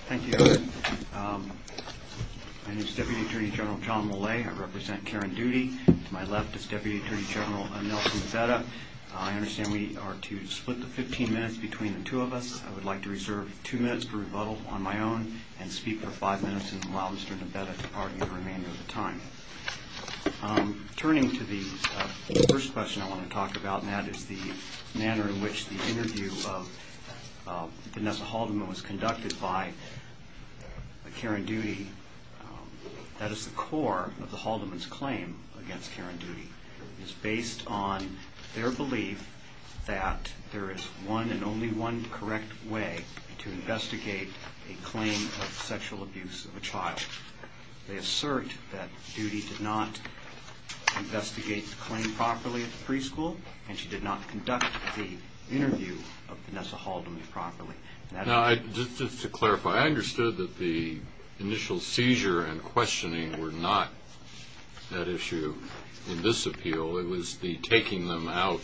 Thank you. My name is Deputy Attorney General John Millay. I represent Karen Doody. To my left is Deputy Attorney General Nelson Nabetta. I understand we are to split the 15 minutes between the two of us. I would like to reserve two minutes for rebuttal on my own and speak for five minutes and allow Mr. Nabetta to argue the remainder of the time. Turning to the first question I want to talk about and that is the manner in which the interview of Vanessa Haldeman was conducted by Karen Doody. That is the core of the Haldeman's claim against Karen Doody. It is based on their belief that there is one and only one correct way to investigate a claim of sexual abuse of a child. They assert that Doody did not investigate the claim properly at the preschool and she did not conduct the interview of Vanessa Haldeman properly. Just to clarify, I understood that the initial seizure and questioning were not that issue in this appeal. It was the taking them out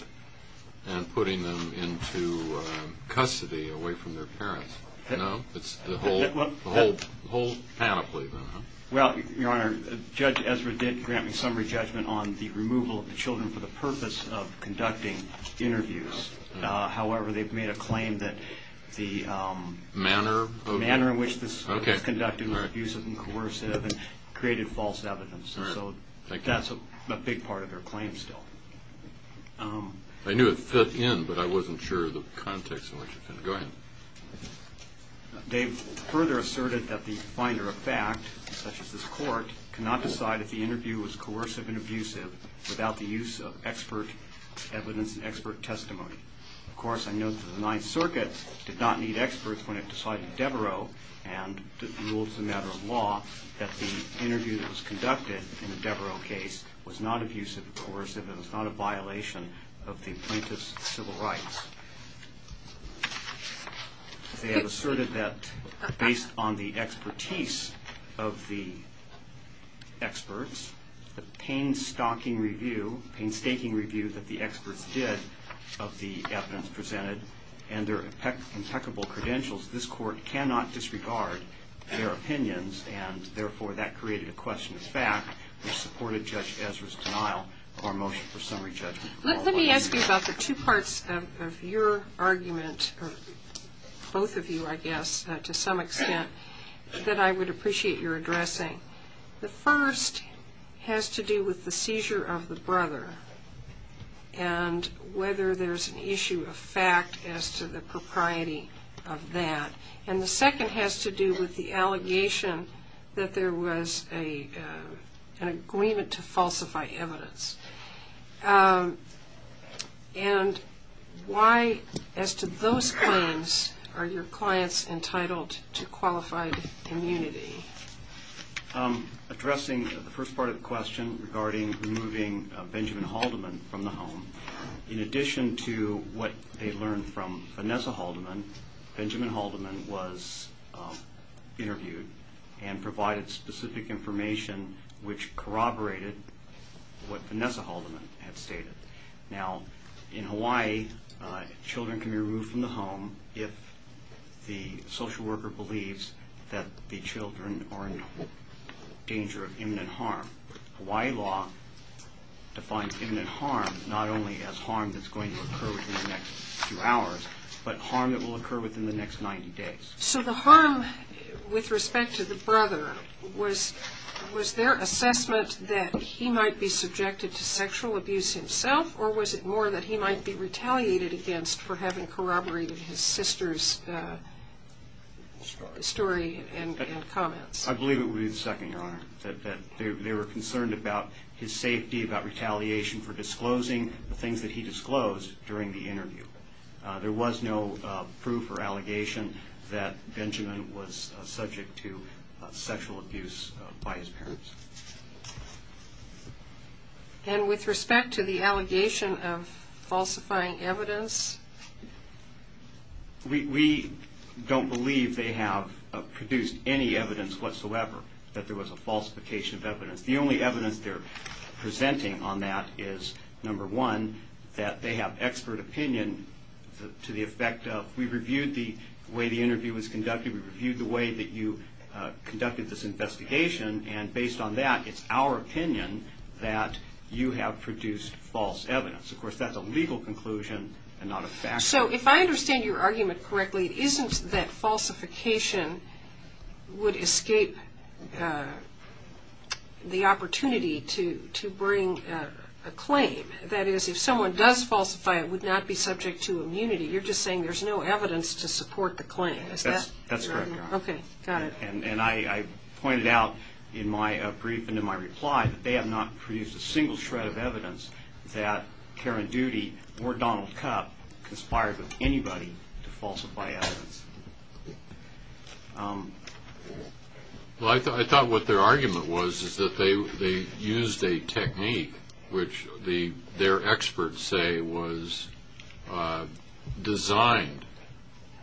and putting them into custody away from their parents. It is the whole panoply. Judge Ezra did grant me summary judgment on the removal of the children for the purpose of conducting interviews. However, they have made a claim that the manner in which this was conducted was abusive and coercive and created false evidence. That is a big part of their claim still. I knew it fit in, but I wasn't sure of the context in which it fit. Go ahead. They have asserted that based on the expertise of the experts, the painstaking review that the experts did of the evidence presented and their impeccable credentials, this court cannot disregard their opinions and therefore that created a question of fact which supported Judge Ezra's denial of our motion for summary judgment. Let me ask you about the two parts of your argument, or both of you I guess to some extent, that I would appreciate your addressing. The first has to do with the seizure of the brother and whether there is an issue of fact as to the propriety of that. The second has to do with the allegation that there was an agreement to falsify evidence. Why, as to those claims, are your clients entitled to qualified immunity? Thank you. Addressing the first part of the question regarding removing Benjamin Haldeman from the home, in addition to what they learned from Vanessa Haldeman, Benjamin Haldeman was interviewed and provided specific information which corroborated what Vanessa Haldeman had stated. Now, in Hawaii, children can be removed from the home if the social worker believes that the children are in danger of imminent harm. Hawaii law defines imminent harm not only as harm that's going to occur within the next few hours, but harm that will occur within the next 90 days. So the harm with respect to the brother, was there assessment that he might be subjected to sexual abuse himself, or was it more that he might be retaliated against for having corroborated his sister's story and comments? I believe it would be the second, Your Honor, that they were concerned about his safety, about retaliation for disclosing the things that he disclosed during the interview. There was no proof or allegation that Benjamin was subject to sexual abuse by his parents. And with respect to the allegation of falsifying evidence? We don't believe they have produced any evidence whatsoever that there was a falsification of evidence. The only evidence they're presenting on that is, number one, that they have expert opinion to the effect of, we reviewed the way the interview was conducted, we reviewed the way that you conducted this investigation, and based on that, it's our opinion that you have produced false evidence. Of course, that's a legal conclusion and not a factual one. So if I understand your argument correctly, it isn't that falsification would escape the opportunity to bring a claim. That is, if someone does falsify, it would not be subject to immunity. You're just saying there's no evidence to support the claim. And I pointed out in my brief and in my reply that they have not produced a single shred of evidence that Karen Doody or Donald Kup conspired with anybody to falsify evidence. Well, I thought what their argument was is that they used a technique which their experts say was designed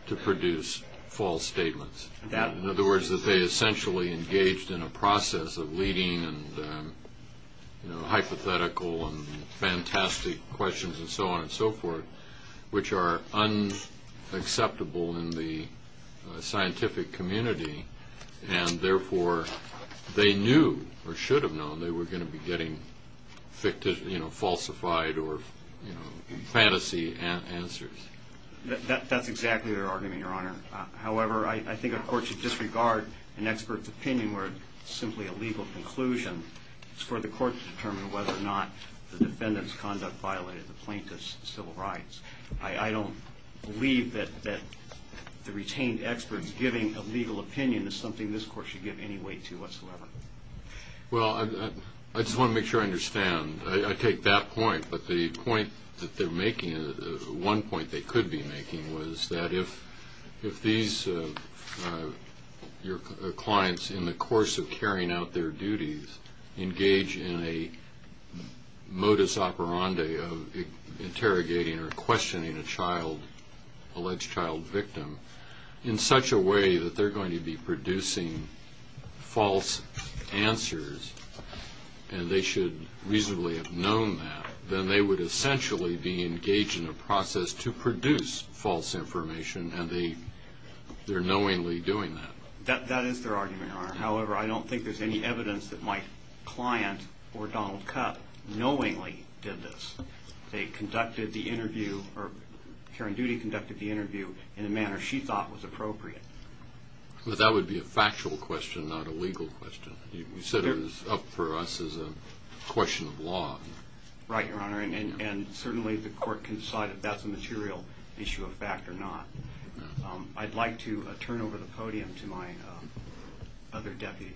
to produce false statements. In other words, that they essentially engaged in a process of leading hypothetical and fantastic questions and so on and so forth, which are unacceptable in the scientific community, and therefore, they knew or should have known they were going to be getting falsified or fantasy answers. That's exactly their argument, Your Honor. However, I think a court should disregard an expert's opinion where it's simply a legal conclusion for the court to determine whether or not the defendant's conduct violated the plaintiff's civil rights. I don't believe that the retained expert's giving a legal opinion is something this court should give any weight to whatsoever. Well, I just want to make sure I understand. I take that point, but the point that they're making, one point they could be making, was that if these clients, in the course of carrying out their duties, engage in a modus operandi of interrogating or questioning a child, alleged child victim, in such a way that they're going to be producing false answers and they should reasonably have known that, then they would essentially be engaged in a process to produce false information, and they're knowingly doing that. That is their argument, Your Honor. However, I don't think there's any evidence that my client or Donald Cup knowingly did this. They conducted the interview, or Karen Doody conducted the interview in a manner she thought was appropriate. But that would be a factual question, not a legal question. You said it was up for us as a question of law. Right, Your Honor, and certainly the court can decide if that's a material issue of fact or not. I'd like to turn over the podium to my other deputy.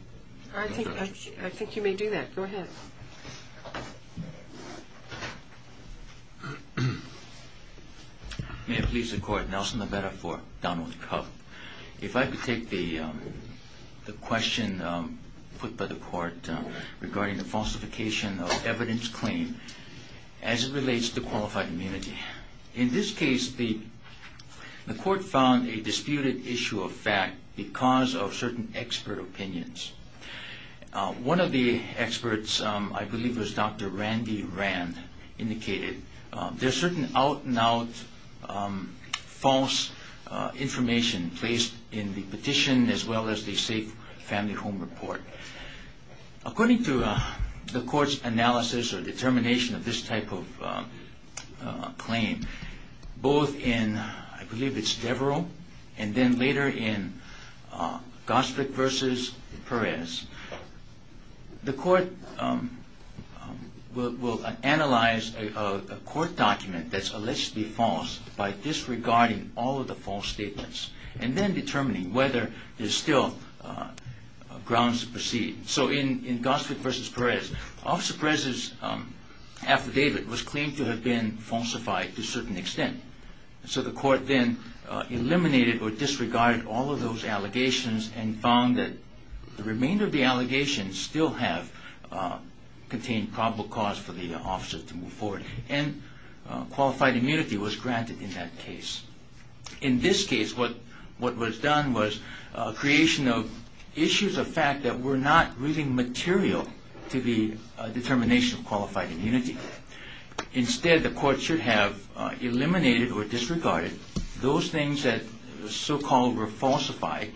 I think you may do that. Go ahead. May it please the Court. Nelson Lovetta for Donald Cup. If I could take the question put by the Court regarding the falsification of evidence claimed as it relates to qualified immunity. Okay. In this case, the Court found a disputed issue of fact because of certain expert opinions. One of the experts, I believe it was Dr. Randy Rand, indicated there's certain out-and-out false information placed in the petition as well as the Safe Family Home report. According to the Court's analysis or determination of this type of claim, both in, I believe it's Deverell and then later in Gostrick v. Perez, the Court will analyze a court document that's allegedly false by disregarding all of the false statements and then determining whether there's still grounds to proceed. So in Gostrick v. Perez, Officer Perez's affidavit was claimed to have been falsified to a certain extent. So the Court then eliminated or disregarded all of those allegations and found that the remainder of the allegations still have contained probable cause for the officer to move forward. And qualified immunity was granted in that case. In this case, what was done was creation of issues of fact that were not really material to the determination of qualified immunity. Instead, the Court should have eliminated or disregarded those things that so-called were falsified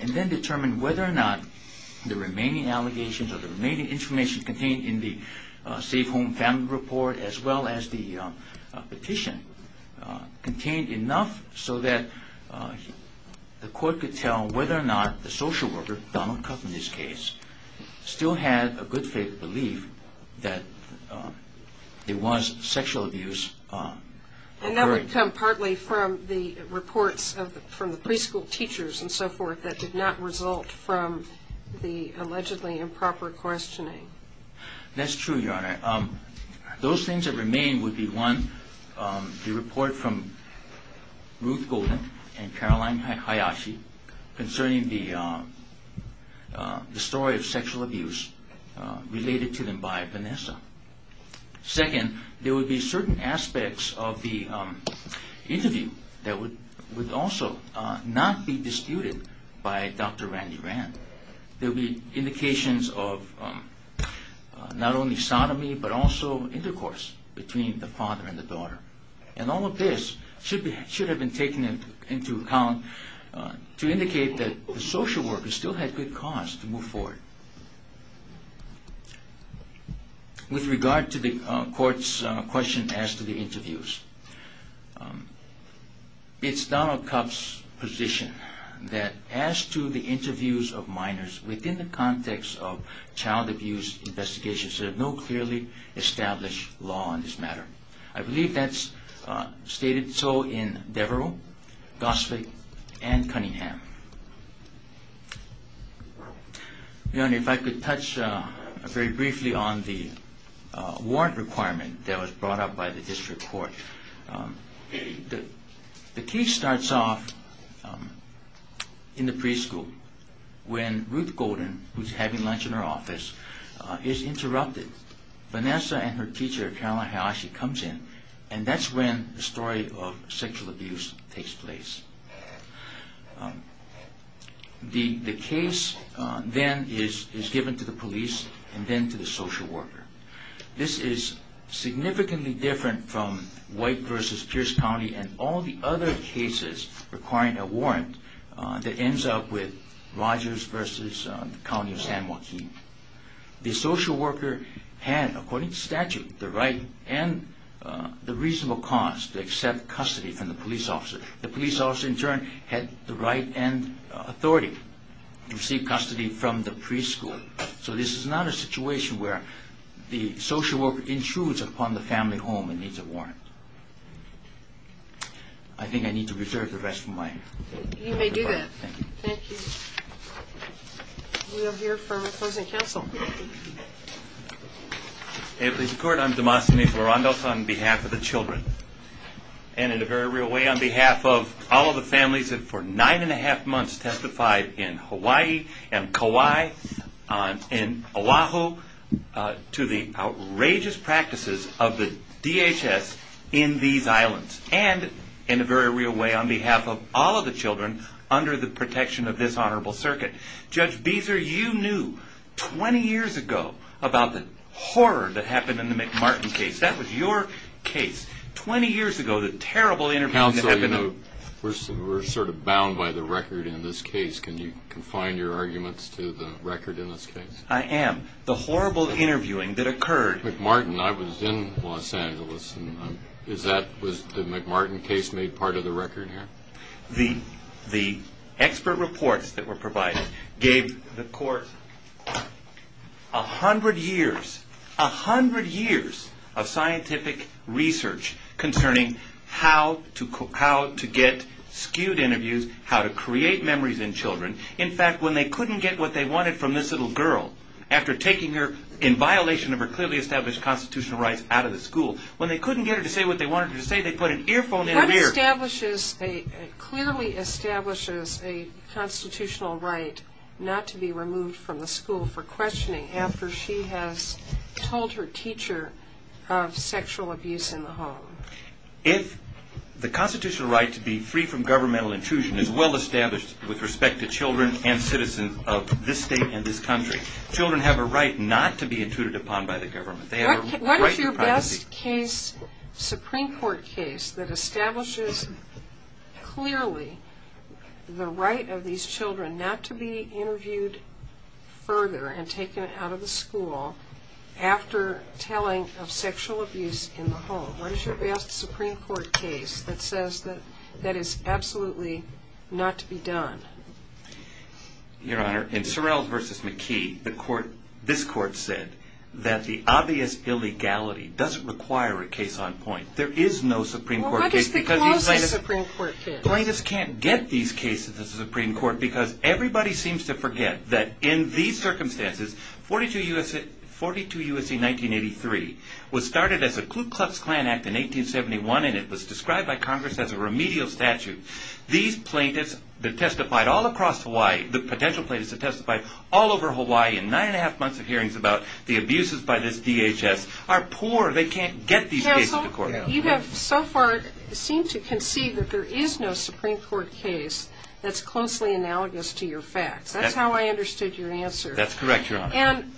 and then determined whether or not the remaining allegations or the remaining information contained in the Safe Home Family Report as well as the petition contained enough so that the Court could tell whether or not the social worker, Donald Cuff in this case, still had a good faith belief that there was sexual abuse occurring. And that would come partly from the reports from the preschool teachers and so forth that did not result from the allegedly improper questioning. That's true, Your Honor. Those things that remain would be, one, the report from Ruth Golden and Caroline Hayashi concerning the story of sexual abuse related to them by Vanessa. Second, there would be certain aspects of the interview that would also not be disputed by Dr. Randy Rand. There would be indications of not only sodomy but also intercourse between the father and the daughter. And all of this should have been taken into account to indicate that the social worker still had good cause to move forward. With regard to the Court's question as to the interviews, it's Donald Cuff's position that as to the interviews of minors within the context of child abuse investigations, there is no clearly established law on this matter. I believe that's stated so in Devereux, Gosvick, and Cunningham. Your Honor, if I could touch very briefly on the warrant requirement that was brought up by the District Court. The case starts off in the preschool when Ruth Golden, who's having lunch in her office, is interrupted. Vanessa and her teacher, Caroline Hayashi, comes in and that's when the story of sexual abuse takes place. The case then is given to the police and then to the social worker. This is significantly different from White v. Pierce County and all the other cases requiring a warrant that ends up with Rogers v. County of San Joaquin. The social worker had, according to statute, the right and the reasonable cause to accept custody from the police officer. The police officer, in turn, had the right and authority to receive custody from the preschool. So this is not a situation where the social worker intrudes upon the family home and needs a warrant. I think I need to reserve the rest of my time. You may do that. Thank you. We are here for closing counsel. In the court, I'm Demosthenes LaRondosa on behalf of the children. And in a very real way, on behalf of all of the families that for nine and a half months testified in Hawaii and Kauai and Oahu to the outrageous practices of the DHS in these islands. And in a very real way, on behalf of all of the children under the protection of this honorable circuit. Judge Beezer, you knew 20 years ago about the horror that happened in the McMartin case. That was your case. 20 years ago, the terrible interview that happened. Counsel, you know, we're sort of bound by the record in this case. Can you confine your arguments to the record in this case? I am. The horrible interviewing that occurred. McMartin, I was in Los Angeles. Was the McMartin case made part of the record here? The expert reports that were provided gave the court a hundred years, a hundred years of scientific research concerning how to get skewed interviews, how to create memories in children. In fact, when they couldn't get what they wanted from this little girl, after taking her in violation of her clearly established constitutional rights out of the school, when they couldn't get her to say what they wanted her to say, they put an earphone in her ear. What clearly establishes a constitutional right not to be removed from the school for questioning after she has told her teacher of sexual abuse in the home? If the constitutional right to be free from governmental intrusion is well established with respect to children and citizens of this state and this country, children have a right not to be intruded upon by the government. What is your best case, Supreme Court case, that establishes clearly the right of these children not to be interviewed further and taken out of the school after telling of sexual abuse in the home? What is your best Supreme Court case that says that that is absolutely not to be done? Your Honor, in Sorrell v. McKee, this Court said that the obvious illegality doesn't require a case on point. There is no Supreme Court case because these plaintiffs can't get these cases to the Supreme Court because everybody seems to forget that in these circumstances, 42 U.S.C. 1983 was started as a Ku Klux Klan Act in 1871, and it was described by Congress as a remedial statute. These plaintiffs that testified all across Hawaii, the potential plaintiffs that testified all over Hawaii in nine and a half months of hearings about the abuses by this DHS are poor. They can't get these cases to court. You have so far seemed to concede that there is no Supreme Court case that's closely analogous to your facts. That's how I understood your answer. That's correct, Your Honor. And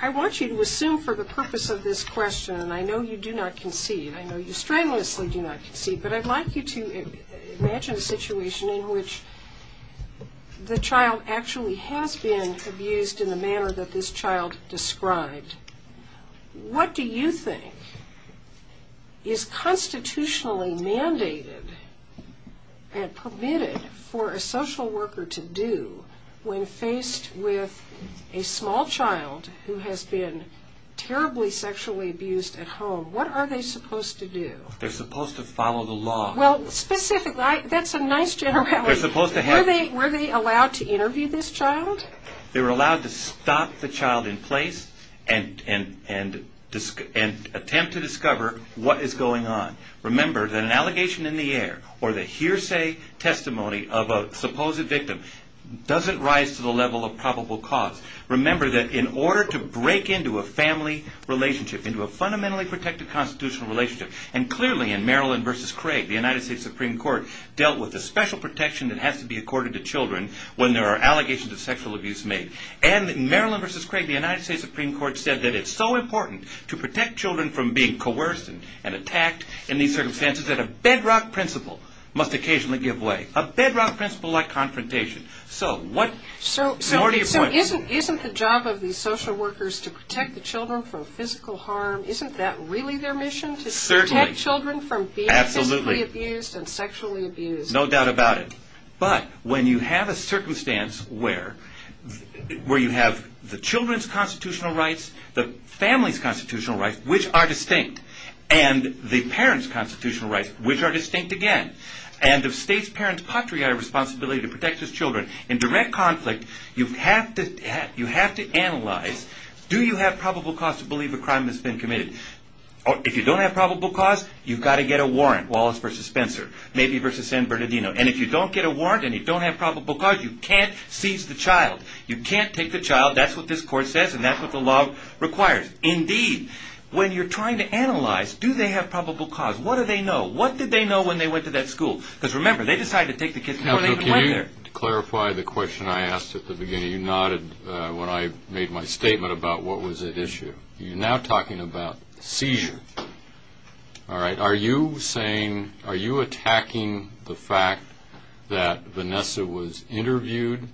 I want you to assume for the purpose of this question, and I know you do not concede. I know you strenuously do not concede. But I'd like you to imagine a situation in which the child actually has been abused in the manner that this child described. What do you think is constitutionally mandated and permitted for a social worker to do when faced with a small child who has been terribly sexually abused at home? What are they supposed to do? They're supposed to follow the law. Well, specifically, that's a nice generality. They're supposed to have... Were they allowed to interview this child? They were allowed to stop the child in place and attempt to discover what is going on. Remember that an allegation in the air or the hearsay testimony of a supposed victim doesn't rise to the level of probable cause. Remember that in order to break into a family relationship, into a fundamentally protected constitutional relationship, and clearly in Maryland v. Craig, the United States Supreme Court dealt with the special protection that has to be accorded to children when there are allegations of sexual abuse made. And in Maryland v. Craig, the United States Supreme Court said that it's so important to protect children from being coerced and attacked in these circumstances that a bedrock principle must occasionally give way, a bedrock principle like confrontation. So isn't the job of these social workers to protect the children from physical harm, isn't that really their mission, to protect children from being physically abused and sexually abused? No doubt about it. But when you have a circumstance where you have the children's constitutional rights, the family's constitutional rights, which are distinct, and the parents' constitutional rights, which are distinct again, and the state's parents' patriotic responsibility to protect its children in direct conflict, you have to analyze, do you have probable cause to believe a crime has been committed? If you don't have probable cause, you've got to get a warrant. Wallace v. Spencer, maybe v. San Bernardino. And if you don't get a warrant and you don't have probable cause, you can't seize the child. You can't take the child. That's what this court says, and that's what the law requires. Indeed, when you're trying to analyze, do they have probable cause? What do they know? What did they know when they went to that school? Because remember, they decided to take the kids before they even went there. Can you clarify the question I asked at the beginning? You nodded when I made my statement about what was at issue. You're now talking about seizure. All right, are you saying, are you attacking the fact that Vanessa was interviewed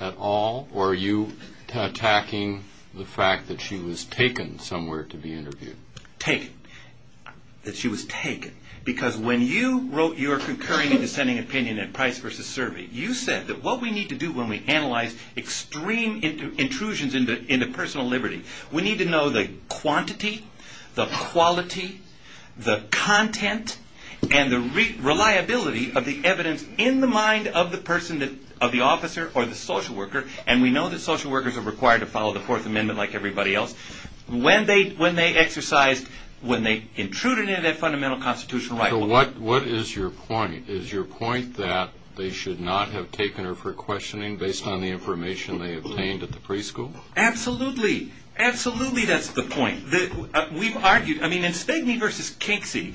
at all, or are you attacking the fact that she was taken somewhere to be interviewed? Taken. That she was taken. Because when you wrote your concurring and dissenting opinion in Price v. Survey, you said that what we need to do when we analyze extreme intrusions into personal liberty, we need to know the quantity, the quality, the content, and the reliability of the evidence in the mind of the person, of the officer or the social worker. And we know that social workers are required to follow the Fourth Amendment like everybody else. When they exercised, when they intruded into that fundamental constitutional right. So what is your point? Is your point that they should not have taken her for questioning based on the information they obtained at the preschool? Absolutely. Absolutely that's the point. We've argued, I mean, in Spigney v. Kinksey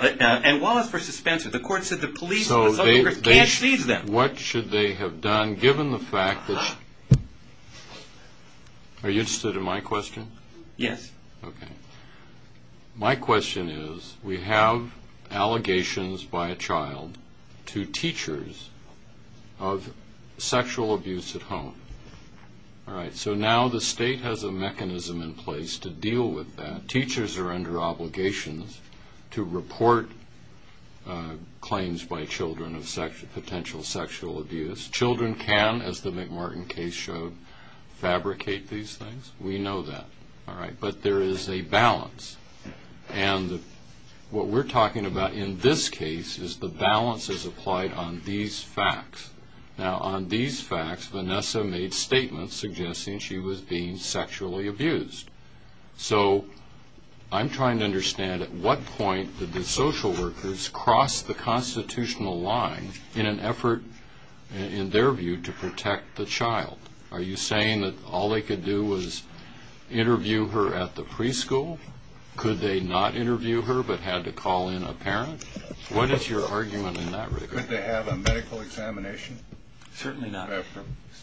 and Wallace v. Spencer, the court said the police and the social workers can't seize them. But what should they have done given the fact that... Are you interested in my question? Yes. My question is, we have allegations by a child to teachers of sexual abuse at home. So now the state has a mechanism in place to deal with that. The teachers are under obligations to report claims by children of potential sexual abuse. Children can, as the McMartin case showed, fabricate these things. We know that. But there is a balance. And what we're talking about in this case is the balance is applied on these facts. Now on these facts, Vanessa made statements suggesting she was being sexually abused. So I'm trying to understand at what point did the social workers cross the constitutional line in an effort, in their view, to protect the child? Are you saying that all they could do was interview her at the preschool? Could they not interview her but had to call in a parent? What is your argument in that regard? Could they have a medical examination? Certainly not.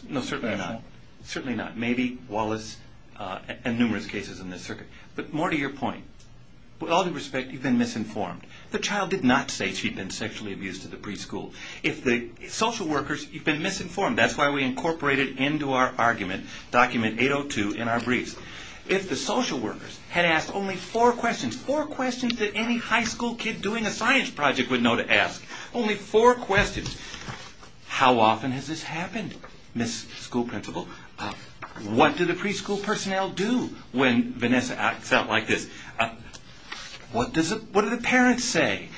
No, certainly not. Certainly not. Maybe Wallace and numerous cases in this circuit. But more to your point, with all due respect, you've been misinformed. The child did not say she'd been sexually abused at the preschool. If the social workers, you've been misinformed. That's why we incorporated into our argument document 802 in our briefs. If the social workers had asked only four questions, four questions that any high school kid doing a science project would know to ask, only four questions, how often has this happened, Miss School Principal? What do the preschool personnel do when Vanessa acts out like this? What do the parents say?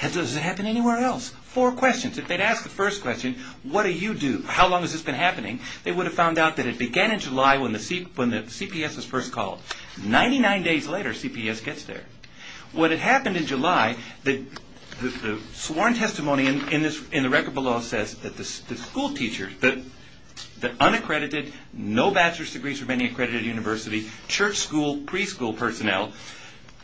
Does it happen anywhere else? Four questions. If they'd asked the first question, what do you do? How long has this been happening? They would have found out that it began in July when the CPS was first called. Ninety-nine days later, CPS gets there. What had happened in July, the sworn testimony in the record below says that the school teacher, the unaccredited, no bachelor's degrees from any accredited university, church school preschool personnel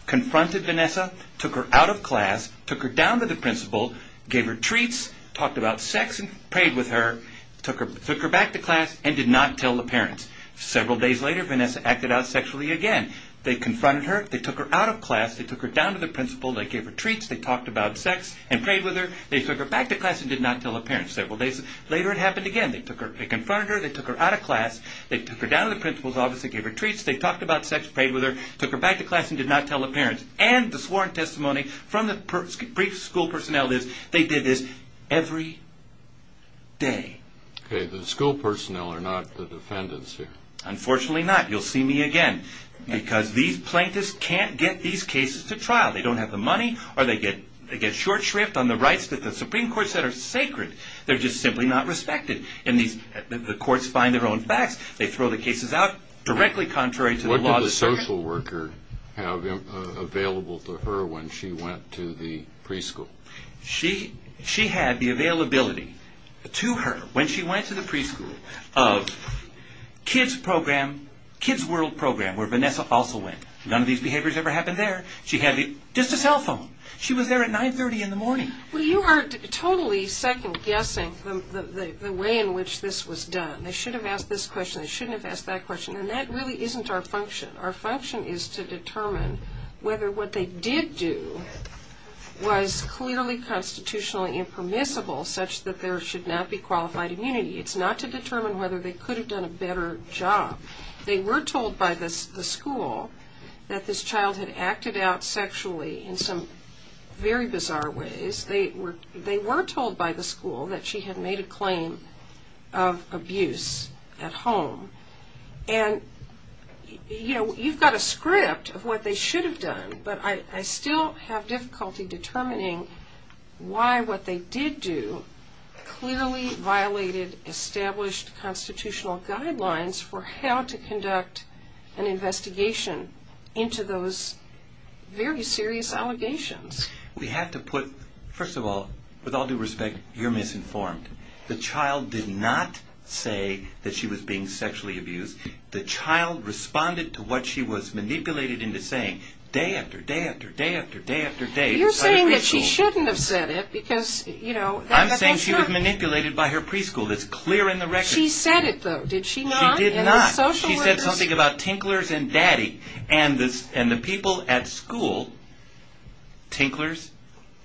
confronted Vanessa, took her out of class, took her down to the principal, gave her treats, talked about sex and prayed with her, took her back to class and did not tell the parents. Several days later, Vanessa acted out sexually again. They confronted her, took her out of class, took her down to the principal, gave her treats, talked about sex and prayed with her, took her back to class and did not tell the parents. Several days later, it happened again. They confronted her, took her out of class, took her down to the principal's office, gave her treats, talked about sex, prayed with her, took her back to class and did not tell the parents. And the sworn testimony from the preschool personnel is, they did this every day. The school personnel are not the defendants here? Unfortunately not. You'll see me again. Because these plaintiffs can't get these cases to trial. They don't have the money or they get short shrift on the rights that the Supreme Court said are sacred. They're just simply not respected. And the courts find their own facts. They throw the cases out directly contrary to the law. What did the social worker have available to her when she went to the preschool? She had the availability to her when she went to the preschool of kids' program, kids' world program, where Vanessa also went. None of these behaviors ever happened there. She had just a cell phone. She was there at 930 in the morning. Well, you are totally second-guessing the way in which this was done. They should have asked this question. They shouldn't have asked that question. And that really isn't our function. Our function is to determine whether what they did do was clearly constitutionally impermissible such that there should not be qualified immunity. It's not to determine whether they could have done a better job. They were told by the school that this child had acted out sexually in some very bizarre ways. They were told by the school that she had made a claim of abuse at home. And, you know, you've got a script of what they should have done, but I still have difficulty determining why what they did do clearly violated established constitutional guidelines for how to conduct an investigation into those very serious allegations. We have to put, first of all, with all due respect, you're misinformed. The child did not say that she was being sexually abused. The child responded to what she was manipulated into saying. Day after day after day after day after day. You're saying that she shouldn't have said it because, you know, that's not true. I'm saying she was manipulated by her preschool. That's clear in the record. She said it, though, did she not? She did not. She said something about tinklers and daddy. And the people at school, tinklers,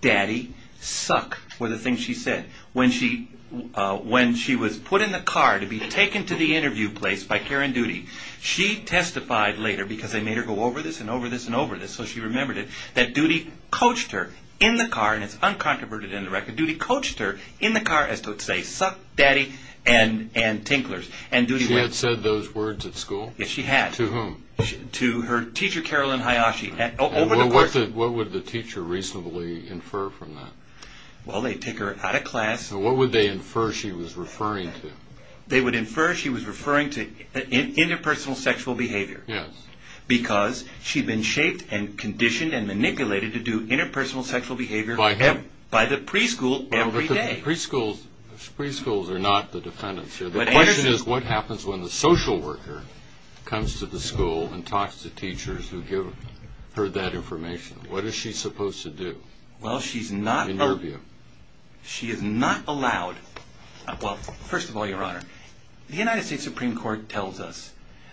daddy, suck, were the things she said. When she was put in the car to be taken to the interview place by Karen Doody, she testified later, because they made her go over this and over this and over this, so she remembered it, that Doody coached her in the car, and it's uncontroverted in the record, Doody coached her in the car as to say, suck, daddy, and tinklers. She had said those words at school? Yes, she had. To whom? To her teacher, Carolyn Hayashi. What would the teacher reasonably infer from that? Well, they'd take her out of class. What would they infer she was referring to? They would infer she was referring to interpersonal sexual behavior. Yes. Because she'd been shaped and conditioned and manipulated to do interpersonal sexual behavior by the preschool every day. Preschools are not the defendants here. The question is, what happens when the social worker comes to the school and talks to teachers who give her that information? What is she supposed to do in your view? She is not allowed. Well, first of all, Your Honor, the United States Supreme Court tells us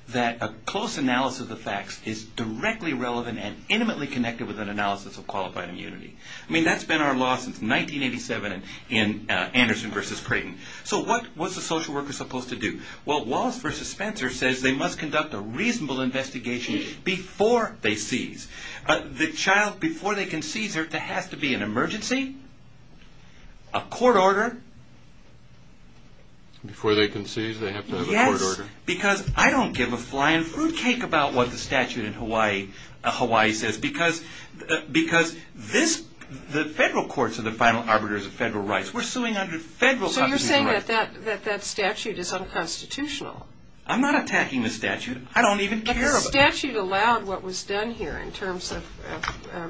that a close analysis of the facts is directly relevant and intimately connected with an analysis of qualified immunity. I mean, that's been our law since 1987 in Anderson v. Creighton. So what was the social worker supposed to do? Well, Wallace v. Spencer says they must conduct a reasonable investigation before they seize. The child, before they can seize her, there has to be an emergency, a court order. Before they can seize, they have to have a court order. Yes, because I don't give a flying fruitcake about what the statute in Hawaii says because the federal courts are the final arbiters of federal rights. We're suing under federal constitutional rights. So you're saying that that statute is unconstitutional. I'm not attacking the statute. I don't even care about it. The statute allowed what was done here in terms of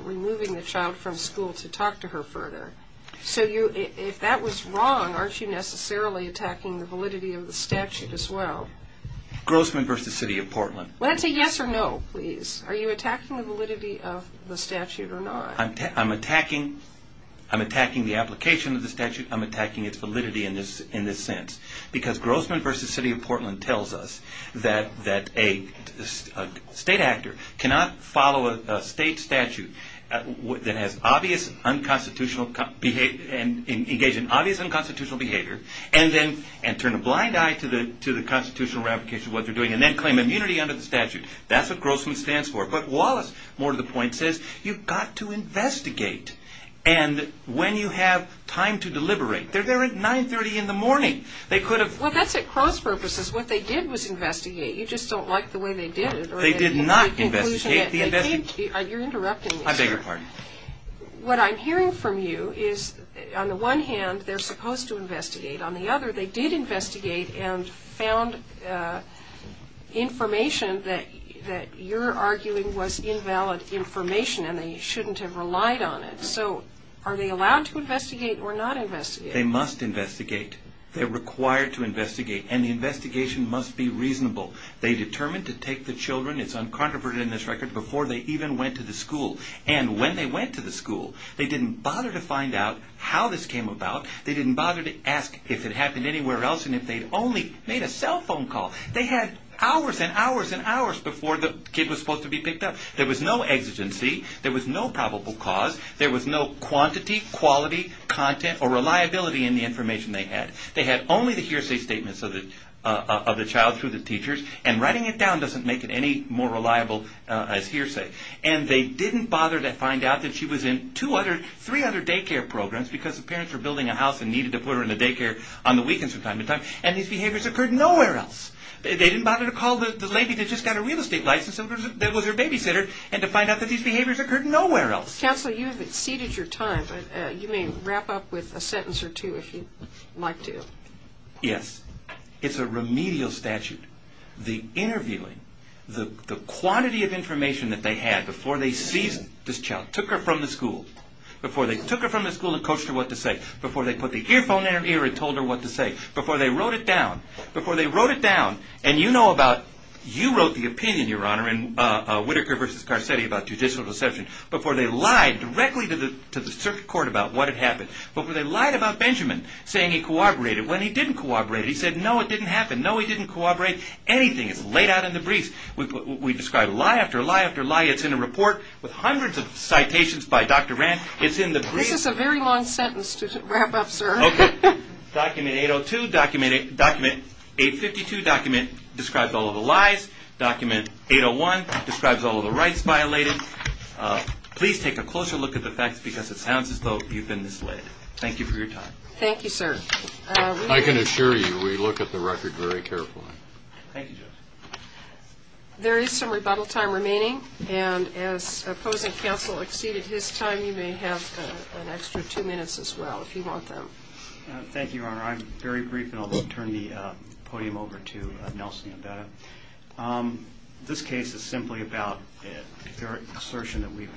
removing the child from school to talk to her further. So if that was wrong, aren't you necessarily attacking the validity of the statute as well? Grossman v. City of Portland. Well, that's a yes or no, please. Are you attacking the validity of the statute or not? I'm attacking the application of the statute. I'm attacking its validity in this sense because Grossman v. City of Portland tells us that a state actor cannot follow a state statute that has engaged in obvious unconstitutional behavior and turn a blind eye to the constitutional ramifications of what they're doing and then claim immunity under the statute. That's what Grossman stands for. But Wallace, more to the point, says you've got to investigate. And when you have time to deliberate, they're there at 930 in the morning. Well, that's at gross purposes. What they did was investigate. You just don't like the way they did it. They did not investigate. You're interrupting me. I beg your pardon. What I'm hearing from you is on the one hand, they're supposed to investigate. On the other, they did investigate and found information that you're arguing was invalid information and they shouldn't have relied on it. So are they allowed to investigate or not investigate? They must investigate. They're required to investigate, and the investigation must be reasonable. They determined to take the children, it's uncontroverted in this record, before they even went to the school. And when they went to the school, they didn't bother to find out how this came about. They didn't bother to ask if it happened anywhere else and if they'd only made a cell phone call. They had hours and hours and hours before the kid was supposed to be picked up. There was no exigency. There was no probable cause. There was no quantity, quality, content, or reliability in the information they had. They had only the hearsay statements of the child through the teachers, and writing it down doesn't make it any more reliable as hearsay. And they didn't bother to find out that she was in three other daycare programs because the parents were building a house and needed to put her in a daycare on the weekends from time to time, and these behaviors occurred nowhere else. They didn't bother to call the lady that just got a real estate license that was her babysitter and to find out that these behaviors occurred nowhere else. Counsel, you have exceeded your time, but you may wrap up with a sentence or two if you'd like to. Yes. It's a remedial statute. The interviewing, the quantity of information that they had before they seized this child, took her from the school, before they took her from the school and coached her what to say, before they put the earphone in her ear and told her what to say, before they wrote it down, before they wrote it down, and you know about, you wrote the opinion, Your Honor, in Whittaker v. Garcetti about judicial deception, before they lied directly to the circuit court about what had happened, before they lied about Benjamin saying he corroborated when he didn't corroborate. He said, No, it didn't happen. No, he didn't corroborate anything. It's laid out in the briefs. We describe lie after lie after lie. It's in a report with hundreds of citations by Dr. Rand. It's in the briefs. This is a very long sentence to wrap up, sir. Okay. Document 802, document 852, document describes all of the lies. Document 801 describes all of the rights violated. Please take a closer look at the facts because it sounds as though you've been misled. Thank you for your time. Thank you, sir. I can assure you we look at the record very carefully. Thank you, Judge. There is some rebuttal time remaining, and as opposing counsel exceeded his time, you may have an extra two minutes as well if you want them. Thank you, Your Honor. Thank you, Your Honor. I'm very brief, and I'll turn the podium over to Nelson Yabetta. This case is simply about the assertion that we've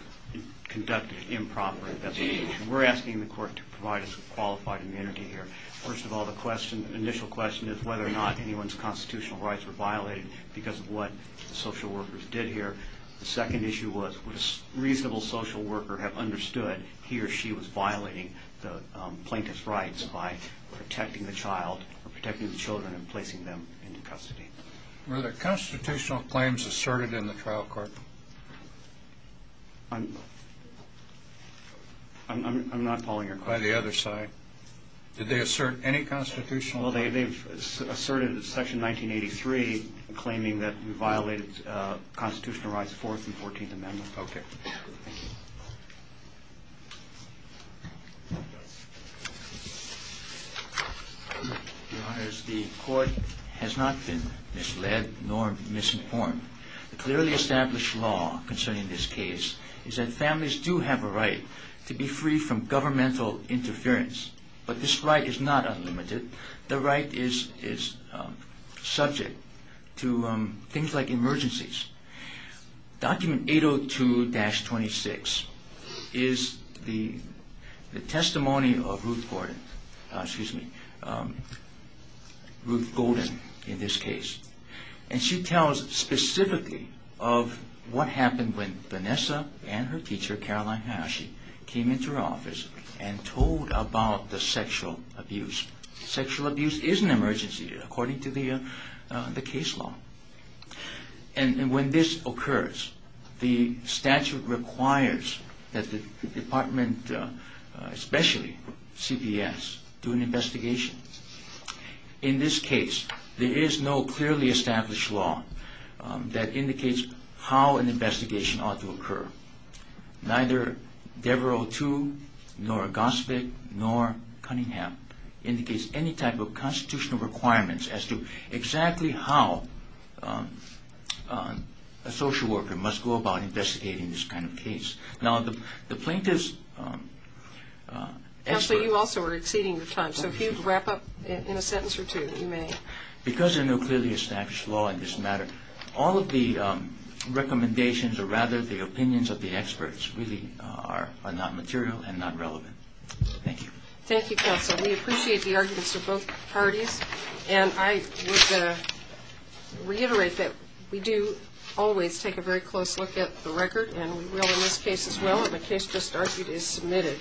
conducted improper investigation. We're asking the court to provide us with qualified immunity here. First of all, the initial question is whether or not anyone's constitutional rights were violated because of what social workers did here. The second issue was would a reasonable social worker have understood he or she was violating the plaintiff's rights by protecting the child or protecting the children and placing them into custody. Were there constitutional claims asserted in the trial court? I'm not following your question. By the other side. Did they assert any constitutional claims? Well, they asserted in Section 1983 claiming that we violated constitutional rights, Okay. Your Honors, the court has not been misled nor misinformed. The clearly established law concerning this case is that families do have a right to be free from governmental interference, but this right is not unlimited. The right is subject to things like emergencies. Document 802-26 is the testimony of Ruth Gordon, excuse me, Ruth Golden in this case, and she tells specifically of what happened when Vanessa and her teacher, came into her office and told about the sexual abuse. Sexual abuse is an emergency according to the case law. And when this occurs, the statute requires that the department, especially CBS, do an investigation. In this case, there is no clearly established law that indicates how an investigation ought to occur. Neither Devereux II, nor Gosvick, nor Cunningham indicates any type of constitutional requirements as to exactly how a social worker must go about investigating this kind of case. Now, the plaintiff's expert Counsel, you also are exceeding your time, so if you'd wrap up in a sentence or two, you may. Because there is no clearly established law in this matter, all of the recommendations, or rather the opinions of the experts, really are not material and not relevant. Thank you. Thank you, Counsel. We appreciate the arguments of both parties. And I would reiterate that we do always take a very close look at the record, and we will in this case as well. My case just argued is submitted.